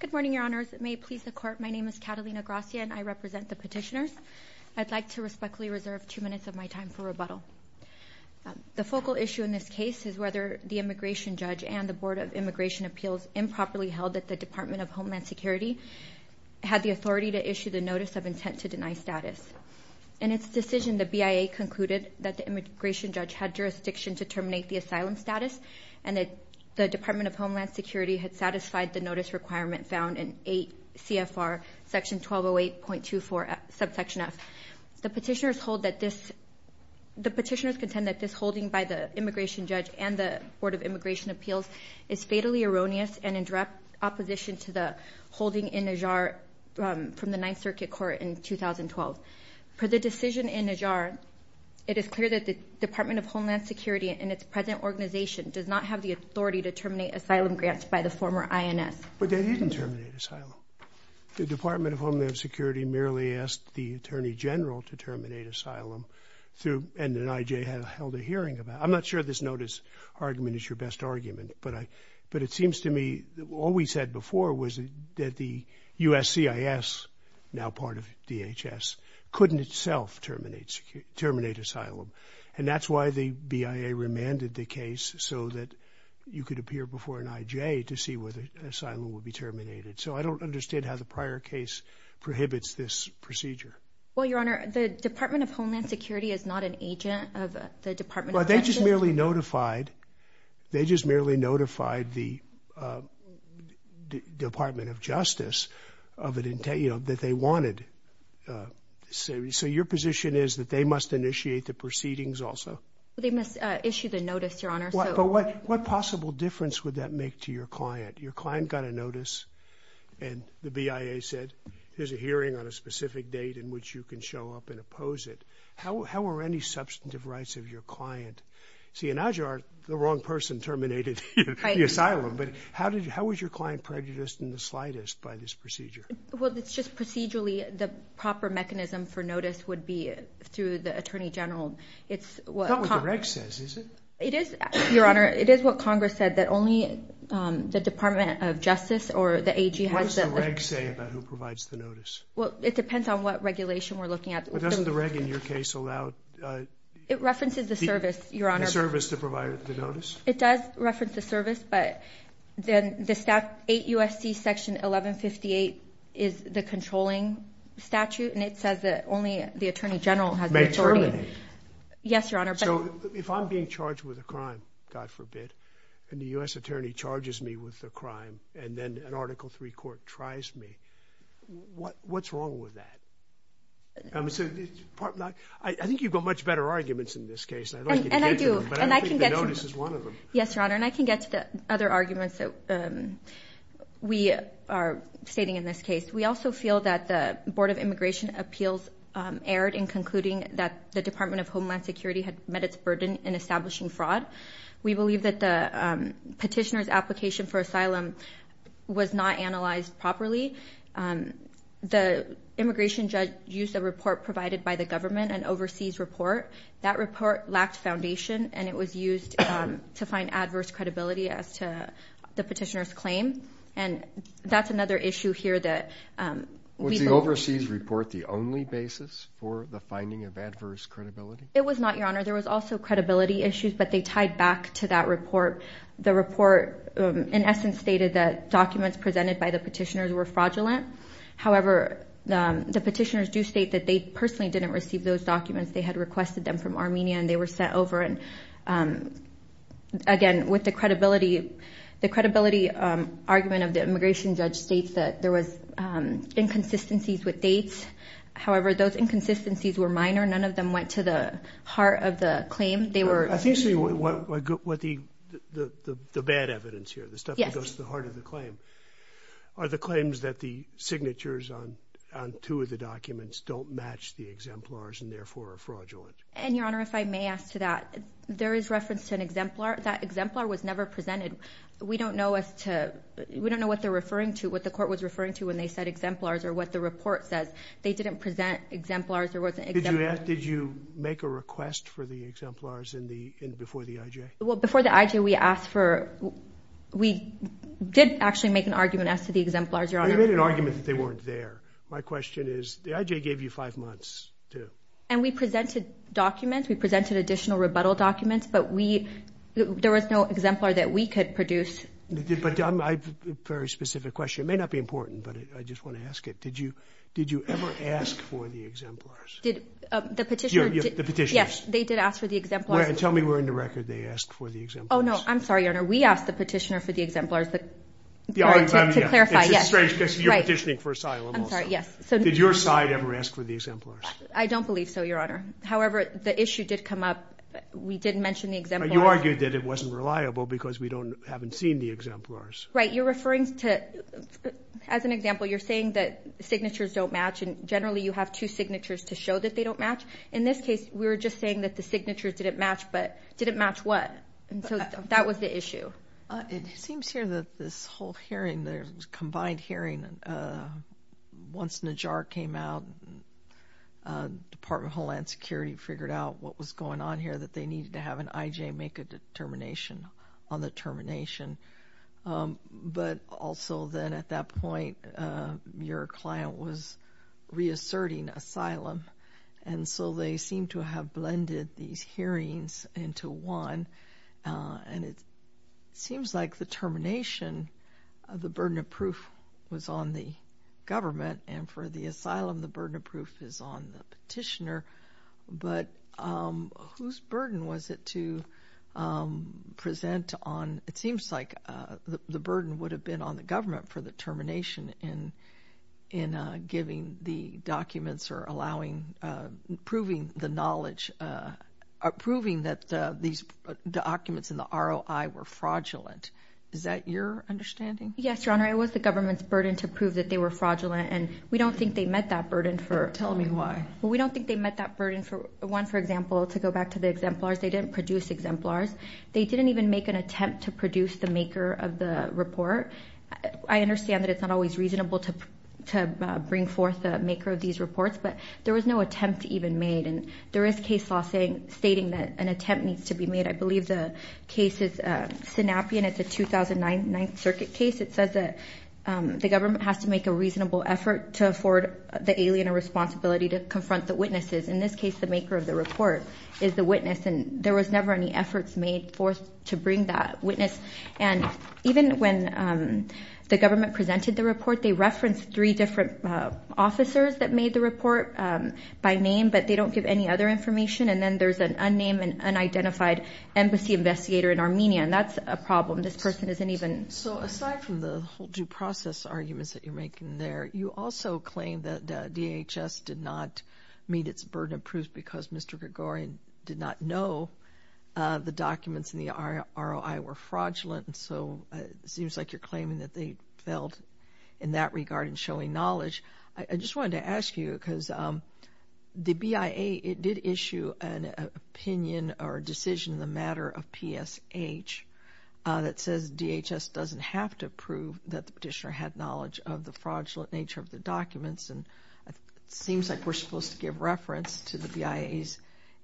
Good morning, Your Honors. May it please the Court, my name is Catalina Gracia and I represent the petitioners. I'd like to respectfully reserve two minutes of my time for rebuttal. The focal issue in this case is whether the immigration judge and the Board of Immigration Appeals improperly held that the Department of Homeland Security had the authority to terminate the asylum status and that the Department of Homeland Security had satisfied the notice requirement found in 8 CFR section 1208.24 subsection F. The petitioners contend that this holding by the immigration judge and the Board of Immigration Appeals is fatally erroneous and in direct opposition to the holding in Ajar from the Ninth Circuit Court in 2012. Per the decision in Ajar, it is clear that the Department of Homeland Security and its present organization does not have the authority to terminate asylum grants by the former INS. But they didn't terminate asylum. The Department of Homeland Security merely asked the Attorney General to terminate asylum through – and then IJ held a hearing about it. I'm not sure this notice argument is your best argument, but I – but it seems to me that all we said before was that the USCIS, now part of DHS, couldn't itself terminate asylum. And that's why the BIA remanded the case so that you could appear before an IJ to see whether asylum would be terminated. So I don't understand how the prior case prohibits this procedure. Well, Your Honor, the Department of Homeland Security is not an agent of the Department of – Well, they just merely notified – they just merely notified the Department of Justice of an – you know, that they wanted – so your position is that they must initiate the proceedings also? Well, they must issue the notice, Your Honor. But what possible difference would that make to your client? Your client got a notice and the BIA said, here's a hearing on a specific date in which you can show up and oppose it. How are any substantive rights of your client – see, in Ajar, the wrong person terminated the asylum. Right. But how did – how was your client prejudiced in the slightest by this procedure? Well, it's just procedurally, the proper mechanism for notice would be through the Attorney General. It's what – It's not what the reg says, is it? It is, Your Honor. It is what Congress said, that only the Department of Justice or the AG has the – What does the reg say about who provides the notice? Well, it depends on what regulation we're looking at. But doesn't the reg, in your case, allow – It references the service, Your Honor. The service to provide the notice? It does reference the service, but then the – 8 U.S.C. Section 1158 is the controlling statute, and it says that only the Attorney General has the authority. May terminate? Yes, Your Honor, but – So if I'm being charged with a crime, God forbid, and the U.S. Attorney charges me with a crime, and then an Article III court tries me, what's wrong with that? I think you've got much better arguments in this case. I'd like you to get to them. And I do, and I can get to – But I think the notice is one of them. Yes, Your Honor, and I can get to the other arguments that we are stating in this case. We also feel that the Board of Immigration Appeals erred in concluding that the Department of Homeland Security had met its burden in establishing fraud. We believe that the petitioner's application for asylum was not analyzed properly. The immigration judge used a report provided by the government, an overseas report. That report lacked foundation, and it was used to find adverse credibility as to the petitioner's claim. And that's another issue here that we believe – Was the overseas report the only basis for the finding of adverse credibility? It was not, Your Honor. There was also credibility issues, but they tied back to that report. The report, in essence, stated that documents presented by the petitioners were fraudulent. However, the petitioners do state that they personally didn't receive those documents. They had requested them from Armenia, and they were sent over, and again, with the credibility – The credibility argument of the immigration judge states that there was inconsistencies with dates. However, those inconsistencies were minor. None of them went to the heart of the claim. They were – I think, Sue, what the bad evidence here, the stuff that goes to the heart of the claim, are the claims that the signatures on two of the documents don't match the exemplars and therefore are fraudulent. And Your Honor, if I may ask to that, there is reference to an exemplar. That exemplar was never presented. We don't know as to – we don't know what they're referring to, what the court was referring to when they said exemplars or what the report says. They didn't present exemplars. There wasn't – Did you ask – did you make a request for the exemplars in the – before the IJ? Well, before the IJ, we asked for – we did actually make an argument as to the exemplars, Your Honor. You made an argument that they weren't there. My question is, the IJ gave you five months to – And we presented documents. We presented additional rebuttal documents, but we – there was no exemplar that we could produce. But I have a very specific question. It may not be important, but I just want to ask it. Did you – did you ever ask for the exemplars? Did – the petitioner – The petitioner. Yes, they did ask for the exemplars. Tell me we're in the record they asked for the exemplars. Oh, no. I'm sorry, Your Honor. We asked the petitioner for the exemplars. To clarify, yes. It's a strange case. You're petitioning for asylum also. I'm sorry. Yes. So – Did your side ever ask for the exemplars? I don't believe so, Your Honor. However, the issue did come up. We did mention the exemplars. You argued that it wasn't reliable because we don't – haven't seen the exemplars. Right. You're referring to – as an example, you're saying that signatures don't match, and generally you have two signatures to show that they don't match. In this case, we were just saying that the signatures didn't match, but didn't match what? And so that was the issue. It seems here that this whole hearing, the combined hearing, once Najjar came out, Department of Homeland Security figured out what was going on here, that they needed to have an IJ make a determination on the termination. But also then at that point, your client was reasserting asylum, and so they seem to have blended these hearings into one, and it seems like the termination, the burden of proof was on the government, and for the asylum, the burden of proof is on the petitioner. But whose burden was it to present on – it seems like the burden would have been on the government for the termination in giving the documents or allowing – proving the knowledge – proving that these documents in the ROI were fraudulent. Yes, Your Honor. It was the government's burden to prove that they were fraudulent, and we don't think they met that burden for – Tell me why. Well, we don't think they met that burden for – one, for example, to go back to the exemplars. They didn't produce exemplars. They didn't even make an attempt to produce the maker of the report. I understand that it's not always reasonable to bring forth the maker of these reports, but there was no attempt even made, and there is case law stating that an attempt needs to be made. I believe the case is Sinapian. It's a 2009 Ninth Circuit case. It says that the government has to make a reasonable effort to afford the alien a responsibility to confront the witnesses. In this case, the maker of the report is the witness, and there was never any efforts made forth to bring that witness. And even when the government presented the report, they referenced three different officers that made the report by name, but they don't give any other information. And then there's an unnamed and unidentified embassy investigator in Armenia, and that's a problem. This person isn't even – So aside from the whole due process arguments that you're making there, you also claim that DHS did not meet its burden of proof because Mr. Gregorian did not know the documents in the ROI were fraudulent, and so it seems like you're claiming that they failed in that regard in showing knowledge. I just wanted to ask you, because the BIA, it did issue an opinion or a decision in the matter of PSH that says DHS doesn't have to prove that the petitioner had knowledge of the fraudulent nature of the documents, and it seems like we're supposed to give reference to the BIA's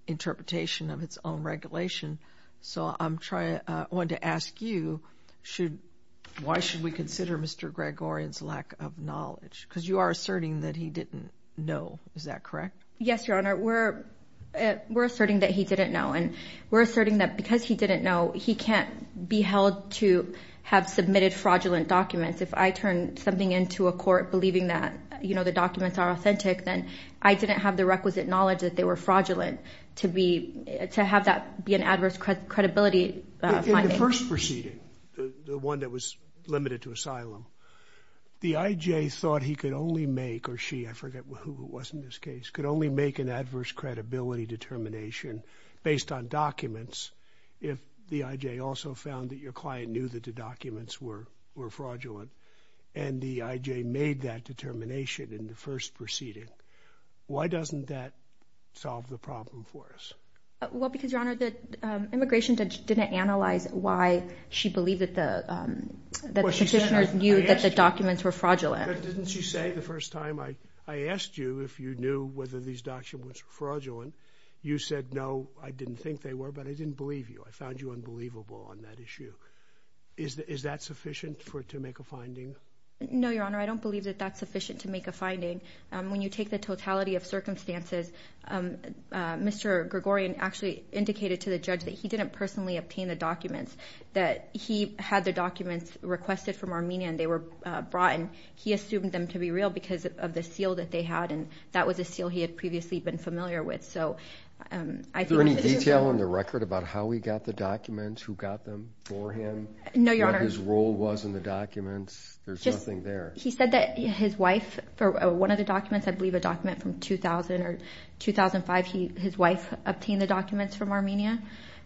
interpretation of its own regulation. So I'm trying – I wanted to ask you, why should we consider Mr. Gregorian's lack of knowledge? Because you are asserting that he didn't know. Is that correct? Yes, Your Honor, we're asserting that he didn't know, and we're asserting that because he didn't know, he can't be held to have submitted fraudulent documents. If I turn something into a court believing that the documents are authentic, then I didn't have the requisite knowledge that they were fraudulent to have that be an adverse credibility finding. In the first proceeding, the one that was limited to asylum, the IJ thought he could only make – or she, I forget who it was in this case – could only make an adverse credibility determination based on documents if the IJ also found that your client knew that the documents were fraudulent, and the IJ made that determination in the first proceeding. Why doesn't that solve the problem for us? Well, because, Your Honor, the immigration judge didn't analyze why she believed that the – that the petitioners knew that the documents were fraudulent. But didn't she say the first time I asked you if you knew whether these documents were fraudulent, you said, no, I didn't think they were, but I didn't believe you. I found you unbelievable on that issue. Is that sufficient for – to make a finding? No, Your Honor, I don't believe that that's sufficient to make a finding. When you take the totality of circumstances, Mr. Gregorian actually indicated to the judge that he didn't personally obtain the documents, that he had the documents requested from Armenia and they were brought, and he assumed them to be real because of the seal that they had, and that was a seal he had previously been familiar with. So I think – Is there any detail on the record about how he got the documents, who got them for him? No, Your Honor. What his role was in the documents? There's nothing there. He said that his wife, for one of the documents, I believe a document from 2000 or 2005, his wife obtained the documents from Armenia,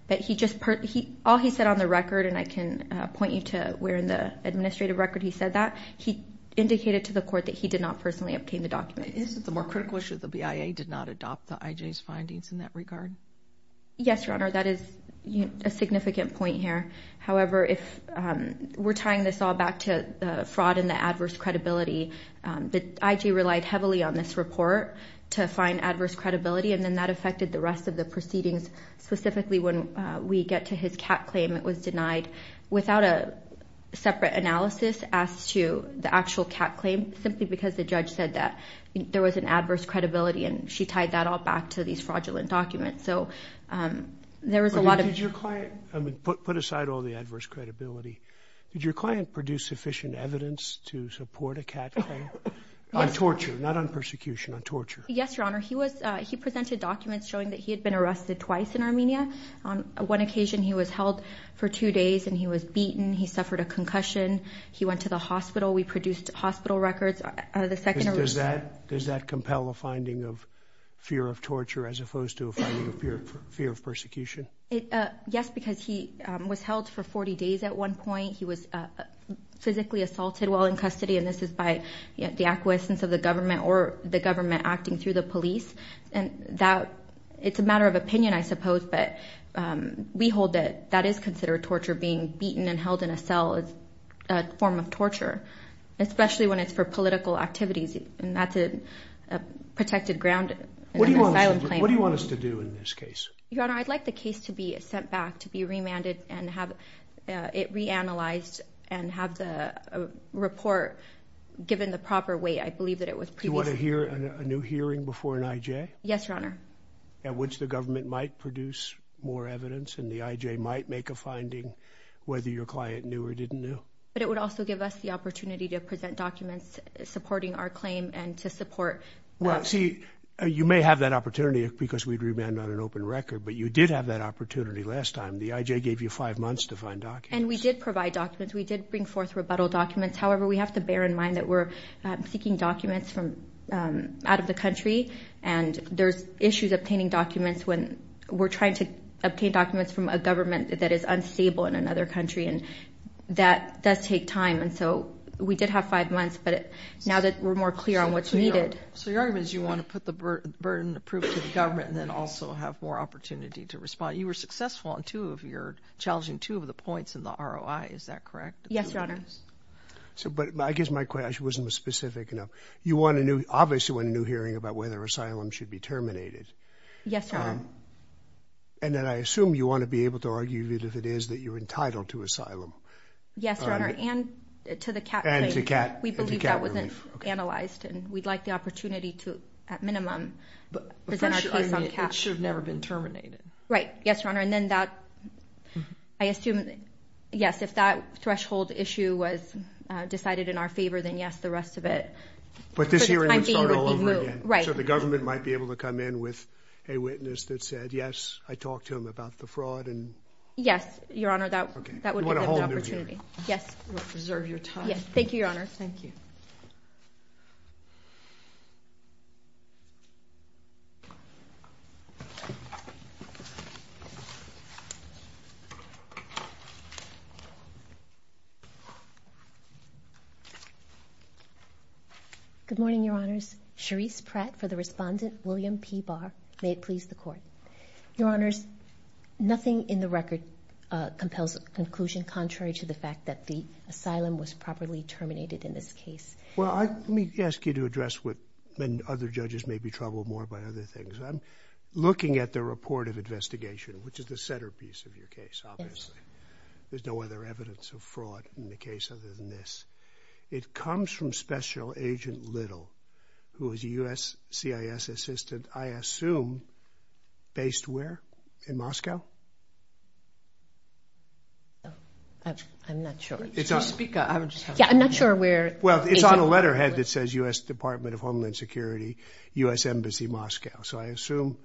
but he just – all he said on the record, and I can point you to where in the administrative record he said that, he indicated to the court that he did not personally obtain the documents. Isn't the more critical issue the BIA did not adopt the IJ's findings in that regard? Yes, Your Honor, that is a significant point here. However, if we're tying this all back to fraud and the adverse credibility, the IJ relied heavily on this report to find adverse credibility, and then that affected the rest of the proceedings, specifically when we get to his cat claim, it was denied without a separate analysis as to the actual cat claim, simply because the judge said that there was an adverse credibility and she tied that all back to these fraudulent documents. So there was a lot of – But did your client – I mean, put aside all the adverse credibility, did your client produce sufficient evidence to support a cat claim? Yes. On torture, not on persecution, on torture. Yes, Your Honor, he was – he presented documents showing that he had been arrested twice in Armenia. On one occasion, he was held for two days and he was beaten, he suffered a concussion, he went to the hospital. We produced hospital records. The second – Does that – does that compel a finding of fear of torture as opposed to a finding of fear of persecution? Yes, because he was held for 40 days at one point. He was physically assaulted while in custody, and this is by the acquiescence of the government or the government acting through the police. And that – it's a matter of opinion, I suppose, but we hold that that is considered torture, being beaten and held in a cell is a form of torture, especially when it's for political activities, and that's a protected ground in an asylum claim. What do you want us to do in this case? Your Honor, I'd like the case to be sent back, to be remanded, and have it reanalyzed and have the report given the proper weight. I believe that it was previously – Do you want to hear a new hearing before an IJ? Yes, Your Honor. At which the government might produce more evidence and the IJ might make a finding whether your client knew or didn't know. But it would also give us the opportunity to present documents supporting our claim and to support – Well, see, you may have that opportunity because we'd remanded on an open record, but you did have that opportunity last time. The IJ gave you five months to find documents. And we did provide documents. We did bring forth rebuttal documents. However, we have to bear in mind that we're seeking documents from – out of the country, and there's issues obtaining documents when we're trying to obtain documents from a government that is unstable in another country, and that does take time. And so we did have five months, but now that we're more clear on what's needed – So your argument is you want to put the burden of proof to the government and then also have more opportunity to respond. You were successful on two of your – challenging two of the points in the ROI. Is that correct? Yes, Your Honor. So – but I guess my question wasn't specific enough. You want a new – obviously want a new hearing about whether asylum should be terminated. Yes, Your Honor. And then I assume you want to be able to argue that if it is, that you're entitled to asylum. Yes, Your Honor, and to the CAT claim. And to CAT relief. And to CAT relief. Okay. That we've analyzed, and we'd like the opportunity to, at minimum, present our case on CAT. But first, your argument, it should have never been terminated. Right. Yes, Your Honor. And then that – I assume – yes, if that threshold issue was decided in our favor, then yes, the rest of it – But this hearing would start all over again. For the time being, would be moved. Right. So the government might be able to come in with a witness that said, yes, I talked to him about the fraud and – Yes, Your Honor, that would give them the opportunity. Okay. You want a whole new hearing. Yes. Reserve your time. Yes. Yes, Your Honor. Good morning, Your Honors. Charisse Pratt for the respondent, William P. Barr. May it please the Court. Your Honors, nothing in the record compels a conclusion contrary to the fact that the Well, let me ask you to address what other judges may be troubled more by other things. I'm looking at the report of investigation, which is the centerpiece of your case, obviously. There's no other evidence of fraud in the case other than this. It comes from Special Agent Little, who is a U.S. CIS assistant, I assume, based where? In Moscow? I'm not sure. Yeah, I'm not sure where. Well, it's on a letterhead that says U.S. Department of Homeland Security, U.S. Embassy Moscow. So I assume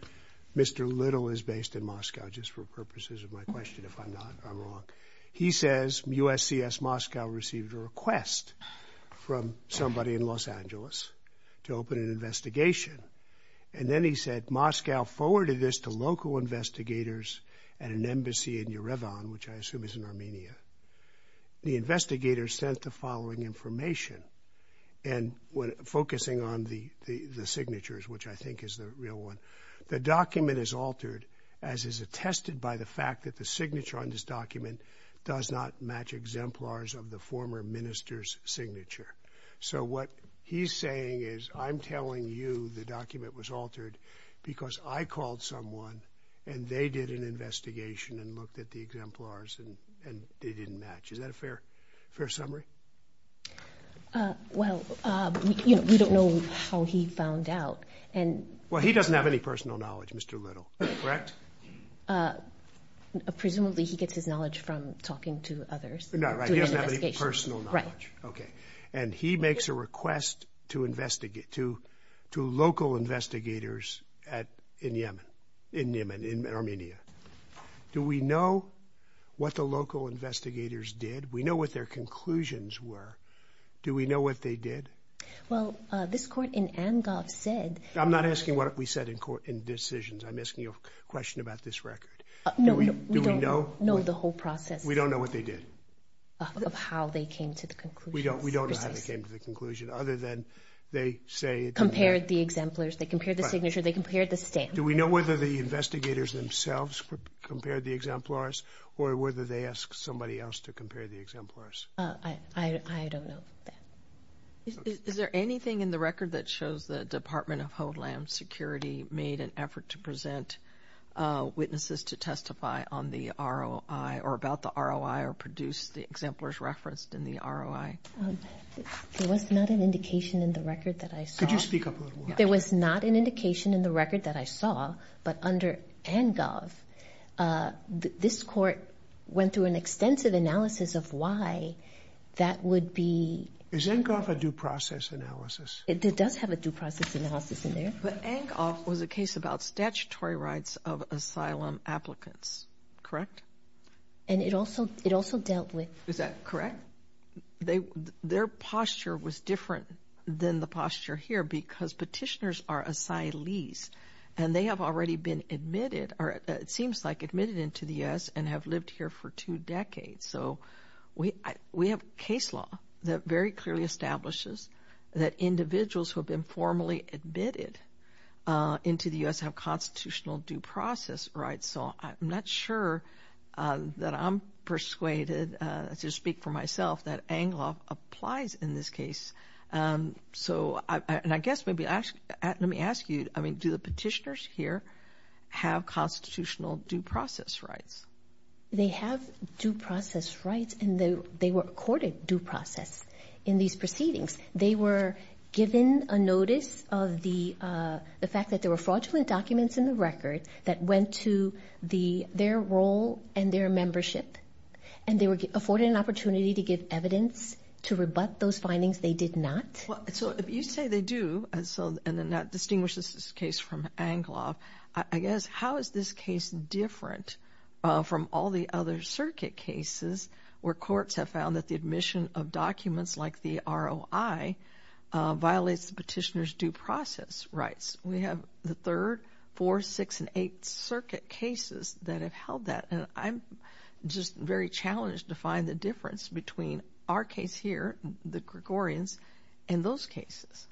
Mr. Little is based in Moscow, just for purposes of my question. If I'm not, I'm wrong. He says U.S. CIS Moscow received a request from somebody in Los Angeles to open an investigation. And then he said Moscow forwarded this to local investigators at an embassy in Yerevan, which I assume is in Armenia. The investigators sent the following information, focusing on the signatures, which I think is the real one. The document is altered, as is attested by the fact that the signature on this document does not match exemplars of the former minister's signature. So what he's saying is I'm telling you the document was altered because I called someone and they did an investigation and looked at the exemplars and they didn't match. Is that a fair summary? Well, we don't know how he found out. Well, he doesn't have any personal knowledge, Mr. Little, correct? Presumably he gets his knowledge from talking to others. No, right, he doesn't have any personal knowledge. And he makes a request to local investigators in Yemen, in Armenia. Do we know what the local investigators did? We know what their conclusions were. Do we know what they did? Well, this court in Angov said... I'm not asking what we said in court in decisions. I'm asking you a question about this record. No, we don't know the whole process. We don't know what they did? Of how they came to the conclusion. We don't know how they came to the conclusion other than they say... Compared the exemplars, they compared the signature, they compared the stamp. Do we know whether the investigators themselves compared the exemplars or whether they asked somebody else to compare the exemplars? I don't know that. Is there anything in the record that shows the Department of Homeland Security made an effort to present witnesses to testify on the ROI or about the ROI or produce the exemplars referenced in the ROI? There was not an indication in the record that I saw... Could you speak up a little more? There was not an indication in the record that I saw, but under Angov, this court went through an extensive analysis of why that would be... Is Angov a due process analysis? It does have a due process analysis in there. But Angov was a case about statutory rights of asylum applicants, correct? And it also dealt with... Is that correct? Their posture was different than the posture here because petitioners are asylees and they have already been admitted or it seems like admitted into the U.S. and have lived here for two decades. So we have case law that very clearly establishes that individuals who have been formally admitted into the U.S. have constitutional due process rights. So I'm not sure that I'm persuaded to speak for myself that Angov applies in this case. So I guess maybe let me ask you, I mean, do the petitioners here have constitutional due process rights? They have due process rights and they were accorded due process in these proceedings. They were given a notice of the fact that there were fraudulent documents in the record that went to their role and their membership and they were afforded an opportunity to give evidence to rebut those findings. They did not. So if you say they do, and that distinguishes this case from Angov, I guess how is this case different from all the other circuit cases where courts have found that the admission of documents like the ROI violates the petitioner's due process rights? We have the third, fourth, sixth, and eighth circuit cases that have held that. And I'm just very challenged to find the difference between our case here, the Gregorians, and those cases.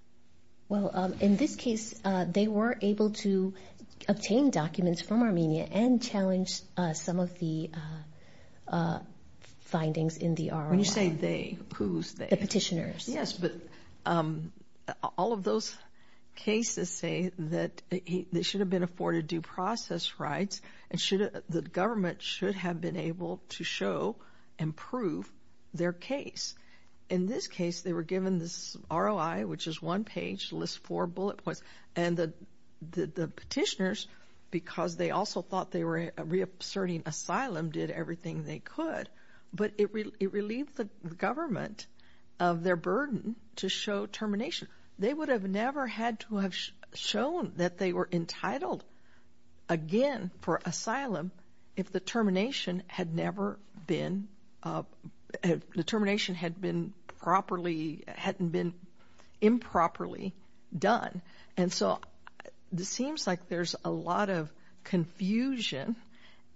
Well, in this case, they were able to obtain documents from Armenia and challenge some of the findings in the ROI. When you say they, who's they? The petitioners. Yes, but all of those cases say that they should have been afforded due process rights and the government should have been able to show and prove their case. In this case, they were given this ROI, which is one page, lists four bullet points, and the petitioners, because they also thought they were reasserting asylum, did everything they could. But it relieved the government of their burden to show termination. They would have never had to have shown that they were entitled again for asylum if the termination hadn't been improperly done. And so it seems like there's a lot of confusion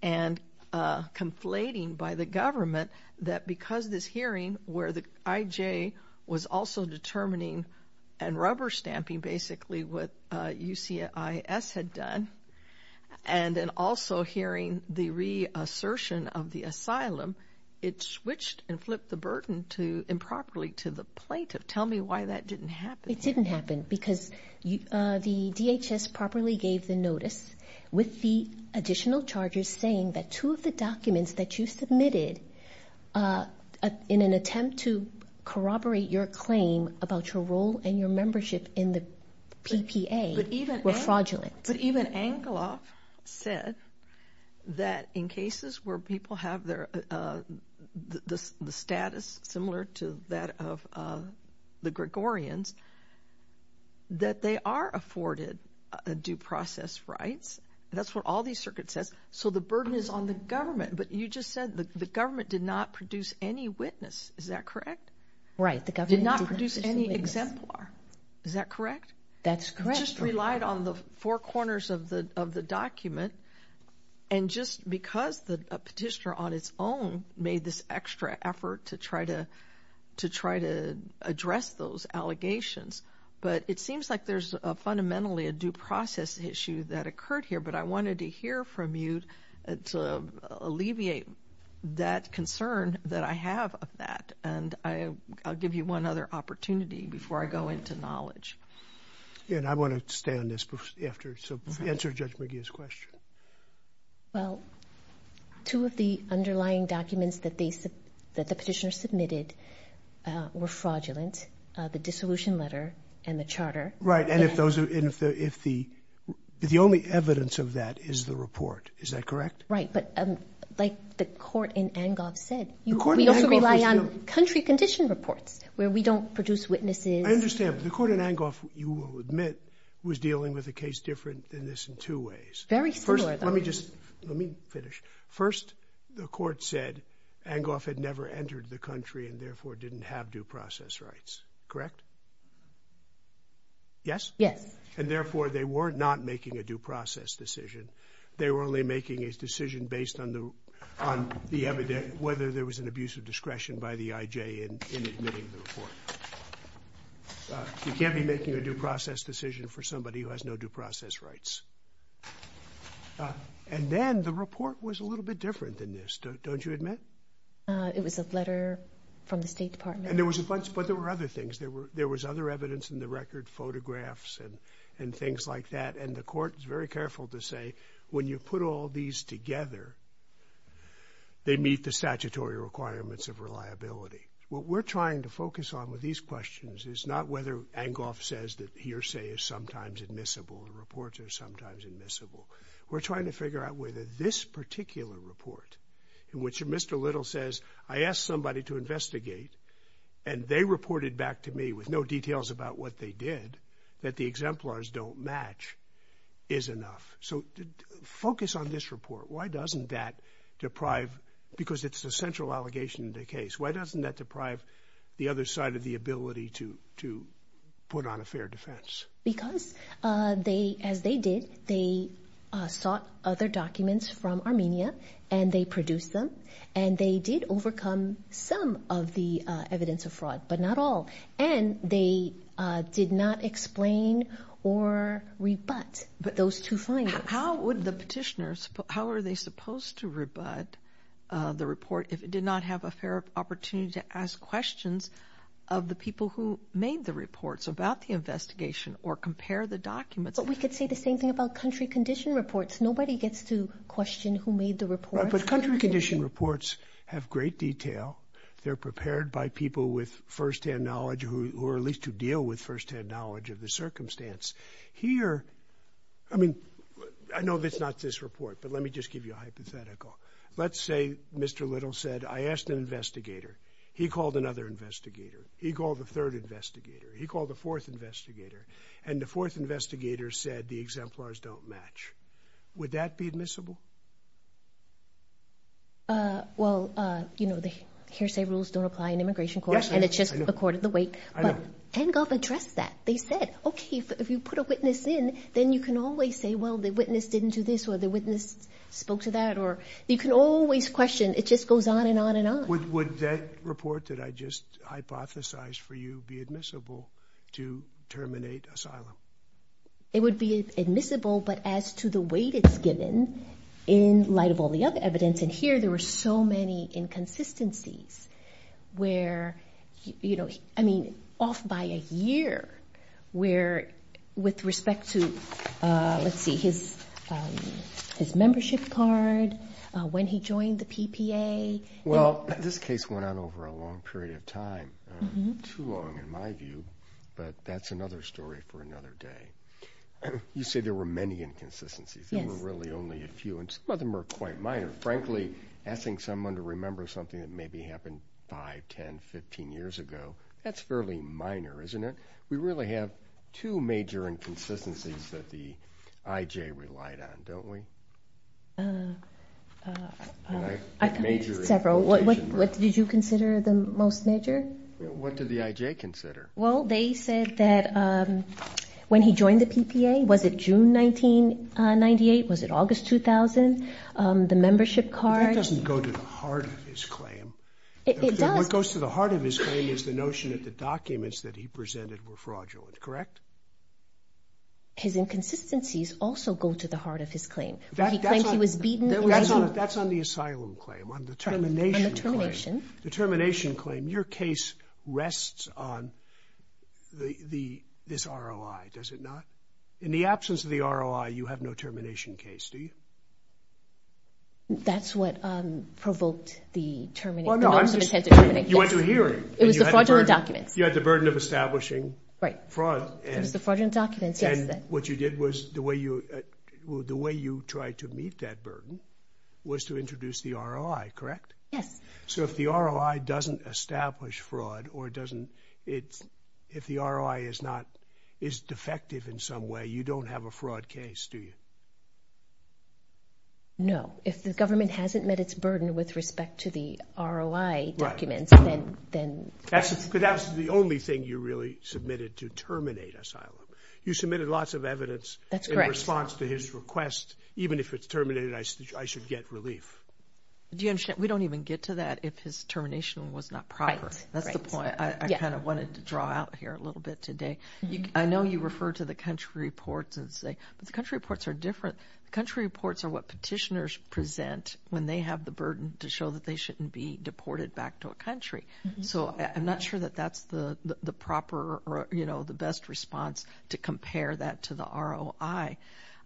and conflating by the government that because this hearing where the IJ was also determining and rubber stamping basically what UCIS had done and then also hearing the reassertion of the asylum, it switched and flipped the burden improperly to the plaintiff. Tell me why that didn't happen. It didn't happen because the DHS properly gave the notice with the additional charges saying that two of the documents that you submitted in an attempt to corroborate your claim about your role and your membership in the PPA were fraudulent. But even Engelhoff said that in cases where people have the status similar to that of the Gregorians, that they are afforded due process rights. That's what all these circuits says. So the burden is on the government, but you just said the government did not produce any witness. Is that correct? Right. Did not produce any exemplar. Is that correct? That's correct. I just relied on the four corners of the document, and just because a petitioner on its own made this extra effort to try to address those allegations. But it seems like there's fundamentally a due process issue that occurred here, but I wanted to hear from you to alleviate that concern that I have of that, and I'll give you one other opportunity before I go into knowledge. I want to stay on this after, so answer Judge McGee's question. Well, two of the underlying documents that the petitioner submitted were fraudulent, the dissolution letter and the charter. Right. And if the only evidence of that is the report, is that correct? Right. But like the court in Engelhoff said, we also rely on country condition reports where we don't produce witnesses. I understand, but the court in Engelhoff, you will admit, was dealing with a case different than this in two ways. Very similar. First, let me just finish. First, the court said Engelhoff had never entered the country and therefore didn't have due process rights, correct? Yes? Yes. And therefore, they were not making a due process decision. They were only making a decision based on the evidence, and whether there was an abuse of discretion by the IJ in admitting the report. You can't be making a due process decision for somebody who has no due process rights. And then the report was a little bit different than this, don't you admit? It was a letter from the State Department. But there were other things. There was other evidence in the record, photographs and things like that, and the court was very careful to say when you put all these together, they meet the statutory requirements of reliability. What we're trying to focus on with these questions is not whether Engelhoff says that hearsay is sometimes admissible and reports are sometimes admissible. We're trying to figure out whether this particular report, in which Mr. Little says, I asked somebody to investigate and they reported back to me with no details about what they did, that the exemplars don't match, is enough. So focus on this report. Why doesn't that deprive, because it's the central allegation in the case, why doesn't that deprive the other side of the ability to put on a fair defense? Because, as they did, they sought other documents from Armenia and they produced them, and they did overcome some of the evidence of fraud, but not all, and they did not explain or rebut those two findings. How would the petitioners, how are they supposed to rebut the report if it did not have a fair opportunity to ask questions of the people who made the reports about the investigation or compare the documents? But we could say the same thing about country condition reports. Nobody gets to question who made the reports. But country condition reports have great detail. They're prepared by people with first-hand knowledge or at least who deal with first-hand knowledge of the circumstance. Here, I mean, I know it's not this report, but let me just give you a hypothetical. Let's say Mr. Little said, I asked an investigator, he called another investigator, he called a third investigator, he called a fourth investigator, and the fourth investigator said the exemplars don't match. Would that be admissible? Well, you know, the hearsay rules don't apply in immigration court, and it's just a court of the weight. But Hengoff addressed that. They said, okay, if you put a witness in, then you can always say, well, the witness didn't do this or the witness spoke to that. You can always question. It just goes on and on and on. Would that report that I just hypothesized for you be admissible to terminate asylum? It would be admissible, but as to the weight it's given in light of all the other evidence. And here there were so many inconsistencies where, you know, I mean, off by a year, where with respect to, let's see, his membership card, when he joined the PPA. Well, this case went on over a long period of time, too long in my view, but that's another story for another day. You say there were many inconsistencies. There were really only a few, and some of them were quite minor. Frankly, asking someone to remember something that maybe happened 5, 10, 15 years ago, that's fairly minor, isn't it? We really have two major inconsistencies that the IJ relied on, don't we? Several. What did you consider the most major? What did the IJ consider? Well, they said that when he joined the PPA, was it June 1998, was it August 2000, the membership card. That doesn't go to the heart of his claim. It does. What goes to the heart of his claim is the notion that the documents that he presented were fraudulent. Correct? His inconsistencies also go to the heart of his claim. That's on the asylum claim, on the termination claim. On the termination. The termination claim. Your case rests on this ROI, does it not? In the absence of the ROI, you have no termination case, do you? That's what provoked the termination. You went to a hearing. It was the fraudulent documents. You had the burden of establishing fraud. It was the fraudulent documents, yes. And what you did was the way you tried to meet that burden was to introduce the ROI, correct? Yes. So if the ROI doesn't establish fraud or if the ROI is defective in some way, you don't have a fraud case, do you? No. If the government hasn't met its burden with respect to the ROI documents, then... Because that was the only thing you really submitted to terminate asylum. You submitted lots of evidence. That's correct. In response to his request, even if it's terminated, I should get relief. Do you understand? We don't even get to that if his termination was not proper. Right. That's the point I kind of wanted to draw out here a little bit today. I know you refer to the country reports and say, but the country reports are different. The country reports are what petitioners present when they have the burden to show that they shouldn't be deported back to a country. So I'm not sure that that's the proper or the best response to compare that to the ROI.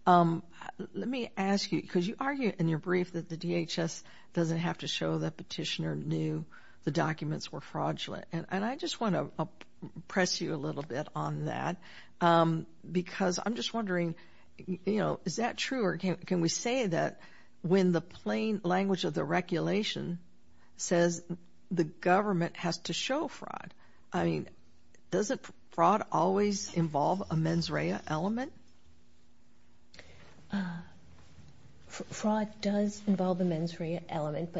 Let me ask you, because you argue in your brief that the DHS doesn't have to show that petitioner knew the documents were fraudulent. And I just want to press you a little bit on that because I'm just wondering, you know, is that true or can we say that when the plain language of the regulation says the government has to show fraud, I mean, doesn't fraud always involve a mens rea element? Fraud does involve a mens rea element,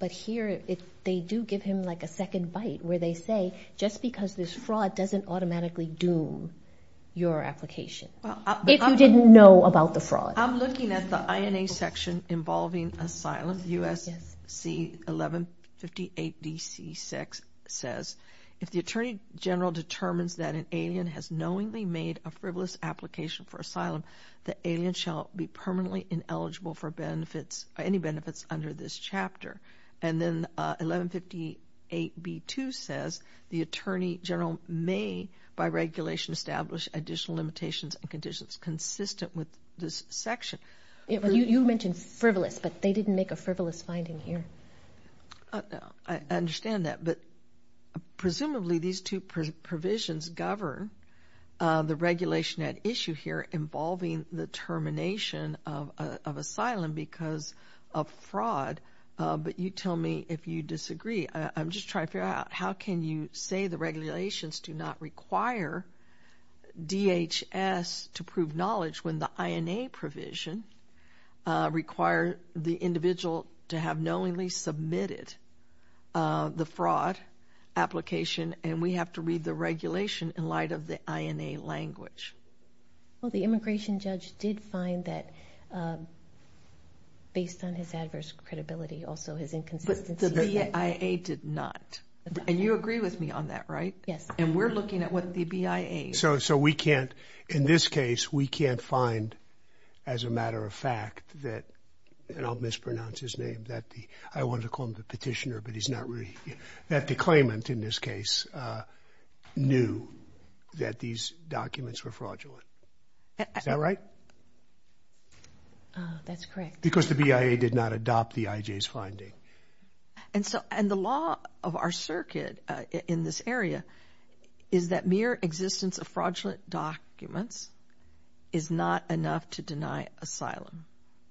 but here they do give him like a second bite where they say just because there's fraud doesn't automatically doom your application if you didn't know about the fraud. I'm looking at the INA section involving asylum, USC 1158DC6 says, if the attorney general determines that an alien has knowingly made a frivolous application for asylum, the alien shall be permanently ineligible for benefits, any benefits under this chapter. And then 1158B2 says the attorney general may by regulation establish additional limitations and conditions consistent with this section. You mentioned frivolous, but they didn't make a frivolous finding here. I understand that, but presumably these two provisions govern the regulation at issue here involving the termination of asylum because of fraud, but you tell me if you disagree. I'm just trying to figure out how can you say the regulations do not require DHS to prove knowledge when the INA provision require the individual to have knowingly submitted the fraud application and we have to read the regulation in light of the INA language. Well, the immigration judge did find that based on his adverse credibility, also his inconsistency. But the BIA did not. And you agree with me on that, right? Yes. And we're looking at what the BIA. So we can't, in this case, we can't find as a matter of fact that, and I'll mispronounce his name, that the, I wanted to call him the petitioner, but he's not really, that the claimant in this case knew that these documents were fraudulent. Is that right? That's correct. Because the BIA did not adopt the IJ's finding. And so, and the law of our circuit in this area is that mere existence of fraudulent documents is not enough to deny asylum,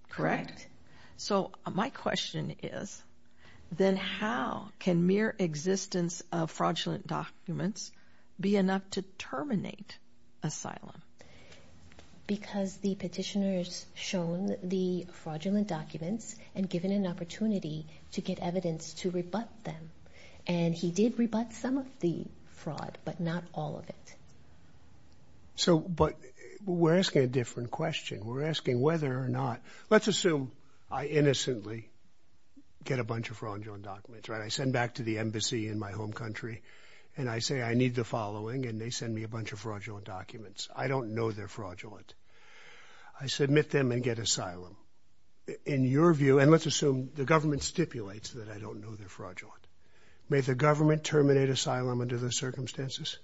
correct? Correct. So my question is, then how can mere existence of fraudulent documents be enough to terminate asylum? Because the petitioners shown the fraudulent documents and given an opportunity to get evidence to rebut them. And he did rebut some of the fraud, but not all of it. So, but we're asking a different question. We're asking whether or not, let's assume I innocently get a bunch of fraudulent documents, right? I send back to the embassy in my home country and I say I need the following and they send me a bunch of fraudulent documents. I don't know they're fraudulent. I submit them and get asylum. In your view, and let's assume the government stipulates that I don't know they're fraudulent. May the government terminate asylum under the circumstances?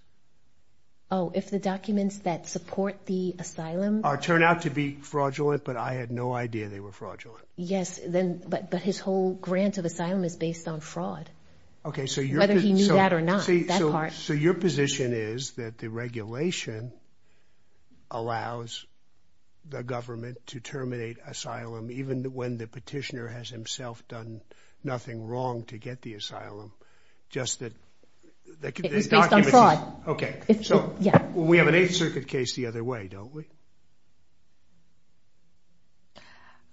Oh, if the documents that support the asylum. Turn out to be fraudulent, but I had no idea they were fraudulent. Yes, then, but his whole grant of asylum is based on fraud. Okay, so you're. Whether he knew that or not, that part. So your position is that the regulation. Allows the government to terminate asylum, even when the petitioner has himself done nothing wrong to get the asylum. Just that. It was based on fraud. Okay, so we have an 8th Circuit case the other way, don't we?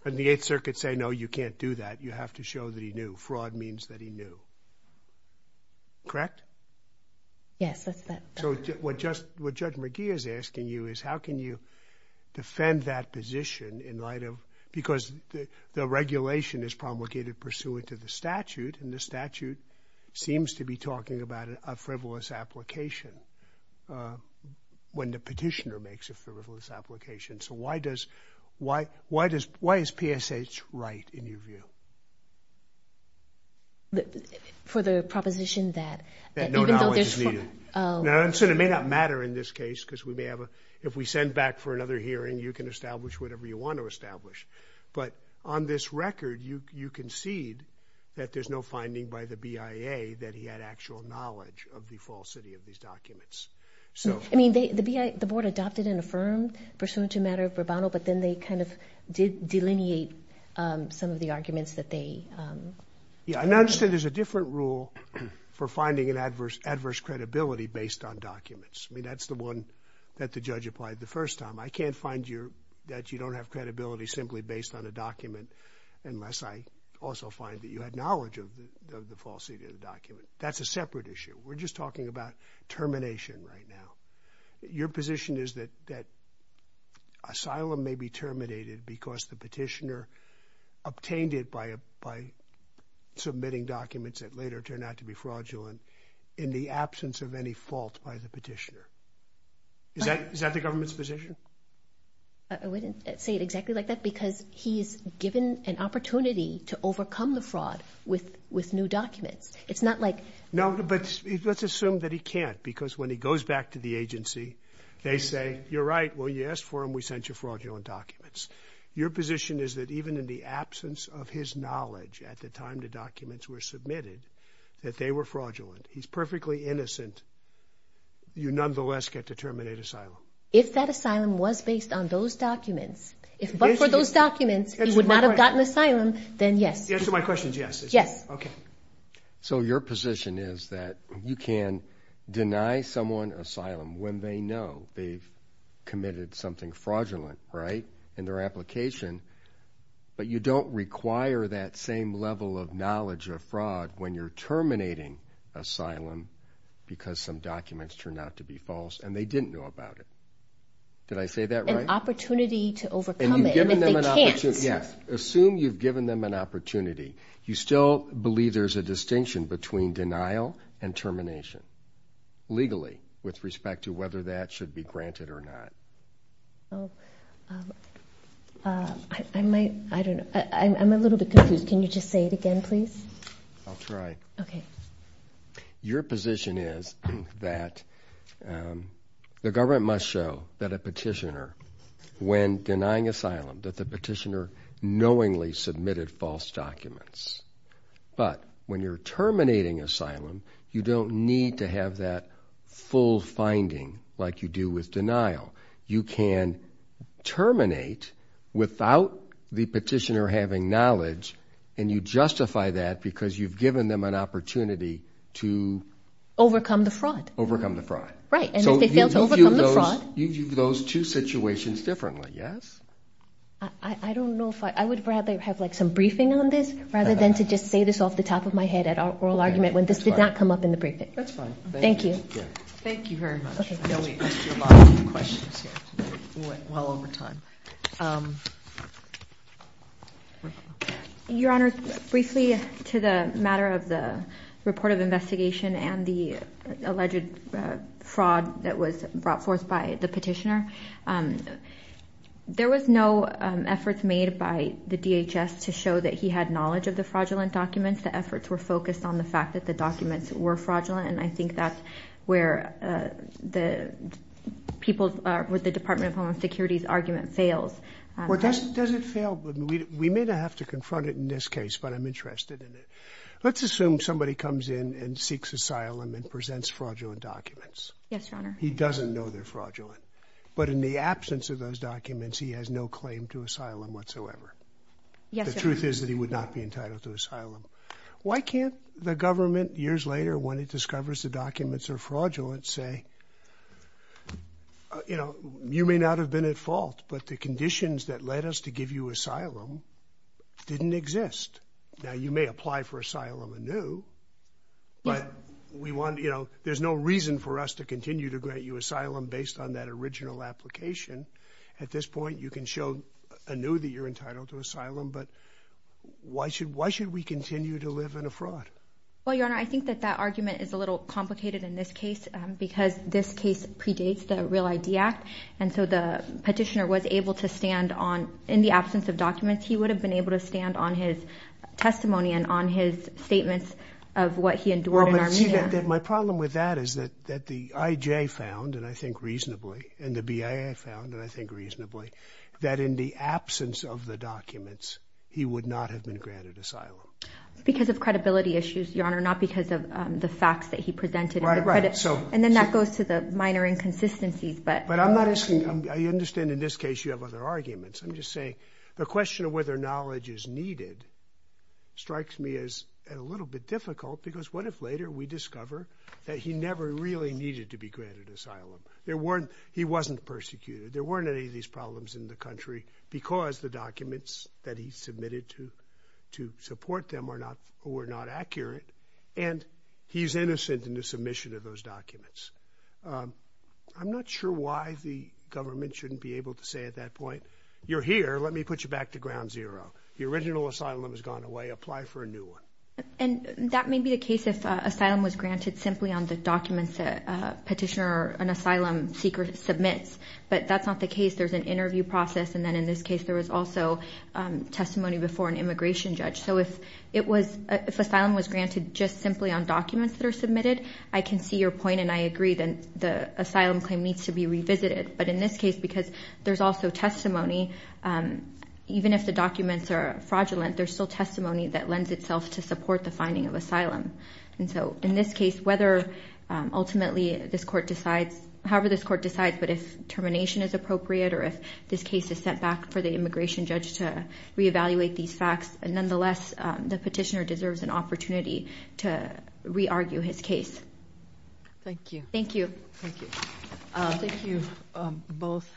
And the 8th Circuit say, no, you can't do that. You have to show that he knew fraud means that he knew. Correct? Yes, that's that. So what just what Judge McGee is asking you is how can you defend that position in light of. Because the regulation is promulgated pursuant to the statute. And the statute seems to be talking about a frivolous application. When the petitioner makes a frivolous application. So why does why why does why is PSH right in your view? For the proposition that. That no knowledge is needed. Now, it may not matter in this case because we may have a. If we send back for another hearing, you can establish whatever you want to establish. But on this record, you concede that there's no finding by the BIA that he had actual knowledge of the falsity of these documents. So, I mean, the BIA, the board adopted and affirmed pursuant to matter of rebuttal. But then they kind of did delineate some of the arguments that they understand. There's a different rule for finding an adverse, adverse credibility based on documents. I mean, that's the one that the judge applied the first time. I can't find you that you don't have credibility simply based on a document. Unless I also find that you had knowledge of the falsity of the document. That's a separate issue. We're just talking about termination right now. Your position is that that. Asylum may be terminated because the petitioner obtained it by by submitting documents that later turned out to be fraudulent in the absence of any fault by the petitioner. Is that the government's position? I wouldn't say it exactly like that because he is given an opportunity to overcome the fraud with with new documents. It's not like. No, but let's assume that he can't because when he goes back to the agency, they say, you're right. Well, yes. For him, we sent you fraudulent documents. Your position is that even in the absence of his knowledge at the time, the documents were submitted that they were fraudulent. He's perfectly innocent. You nonetheless get to terminate asylum. If that asylum was based on those documents, if those documents would not have gotten asylum, then yes. Yes. My question is, yes. Yes. OK. So your position is that you can deny someone asylum when they know they've committed something fraudulent. Right. In their application. But you don't require that same level of knowledge of fraud when you're terminating asylum because some documents turn out to be false and they didn't know about it. Did I say that right? An opportunity to overcome it. And you've given them an opportunity. Yes. Assume you've given them an opportunity. You still believe there's a distinction between denial and termination. Legally, with respect to whether that should be granted or not. I might, I don't know. I'm a little bit confused. Can you just say it again, please? I'll try. OK. Your position is that the government must show that a petitioner, when denying asylum, that the petitioner knowingly submitted false documents. But when you're terminating asylum, you don't need to have that full finding like you do with denial. You can terminate without the petitioner having knowledge, and you justify that because you've given them an opportunity to... Overcome the fraud. Overcome the fraud. Right. And if they fail to overcome the fraud... You view those two situations differently, yes? I don't know if I, I would rather have like some briefing on this rather than to just say this off the top of my head at oral argument when this did not come up in the briefing. That's fine. Thank you. Thank you very much. I know we asked you a lot of questions here. We went well over time. Your Honor, briefly to the matter of the report of investigation and the alleged fraud that was brought forth by the petitioner. There was no efforts made by the DHS to show that he had knowledge of the fraudulent documents. The efforts were focused on the fact that the documents were fraudulent. And I think that's where the people with the Department of Homeland Security's argument fails. Well, does it fail? We may not have to confront it in this case, but I'm interested in it. Let's assume somebody comes in and seeks asylum and presents fraudulent documents. Yes, Your Honor. He doesn't know they're fraudulent. But in the absence of those documents, he has no claim to asylum whatsoever. Yes, Your Honor. The truth is that he would not be entitled to asylum. Why can't the government, years later, when it discovers the documents are fraudulent, say, you know, you may not have been at fault, but the conditions that led us to give you asylum didn't exist? Now, you may apply for asylum anew, but we want, you know, there's no reason for us to continue to grant you asylum based on that original application. At this point, you can show anew that you're entitled to asylum, but why should we continue to live in a fraud? Well, Your Honor, I think that that argument is a little complicated in this case because this case predates the REAL ID Act. And so the petitioner was able to stand on, in the absence of documents, he would have been able to stand on his testimony and on his statements of what he endured in Armenia. My problem with that is that the IJ found, and I think reasonably, and the BIA found, and I think reasonably, that in the absence of the documents, he would not have been granted asylum. Because of credibility issues, Your Honor, not because of the facts that he presented. Right, right. And then that goes to the minor inconsistencies. But I'm not asking, I understand in this case you have other arguments. I'm just saying the question of whether knowledge is needed strikes me as a little bit difficult because what if later we discover that he never really needed to be granted asylum? He wasn't persecuted. There weren't any of these problems in the country because the documents that he submitted to support them were not accurate. And he's innocent in the submission of those documents. I'm not sure why the government shouldn't be able to say at that point, you're here, let me put you back to ground zero. The original asylum has gone away. Apply for a new one. And that may be the case if asylum was granted simply on the documents that a petitioner or an asylum seeker submits. But that's not the case. There's an interview process. And then in this case, there was also testimony before an immigration judge. So if asylum was granted just simply on documents that are submitted, I can see your point and I agree that the asylum claim needs to be revisited. But in this case, because there's also testimony, even if the documents are fraudulent, there's still testimony that lends itself to support the finding of asylum. And so in this case, whether ultimately this court decides, however this court decides, but if termination is appropriate or if this case is sent back for the immigration judge to reevaluate these facts, nonetheless, the petitioner deserves an opportunity to re-argue his case. Thank you. Thank you. Thank you. Thank you both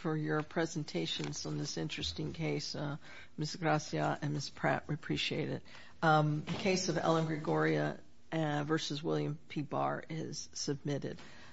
for your presentations on this interesting case. Ms. Gracia and Ms. Pratt, we appreciate it. The case of Ellen Gregoria v. William P. Barr is submitted.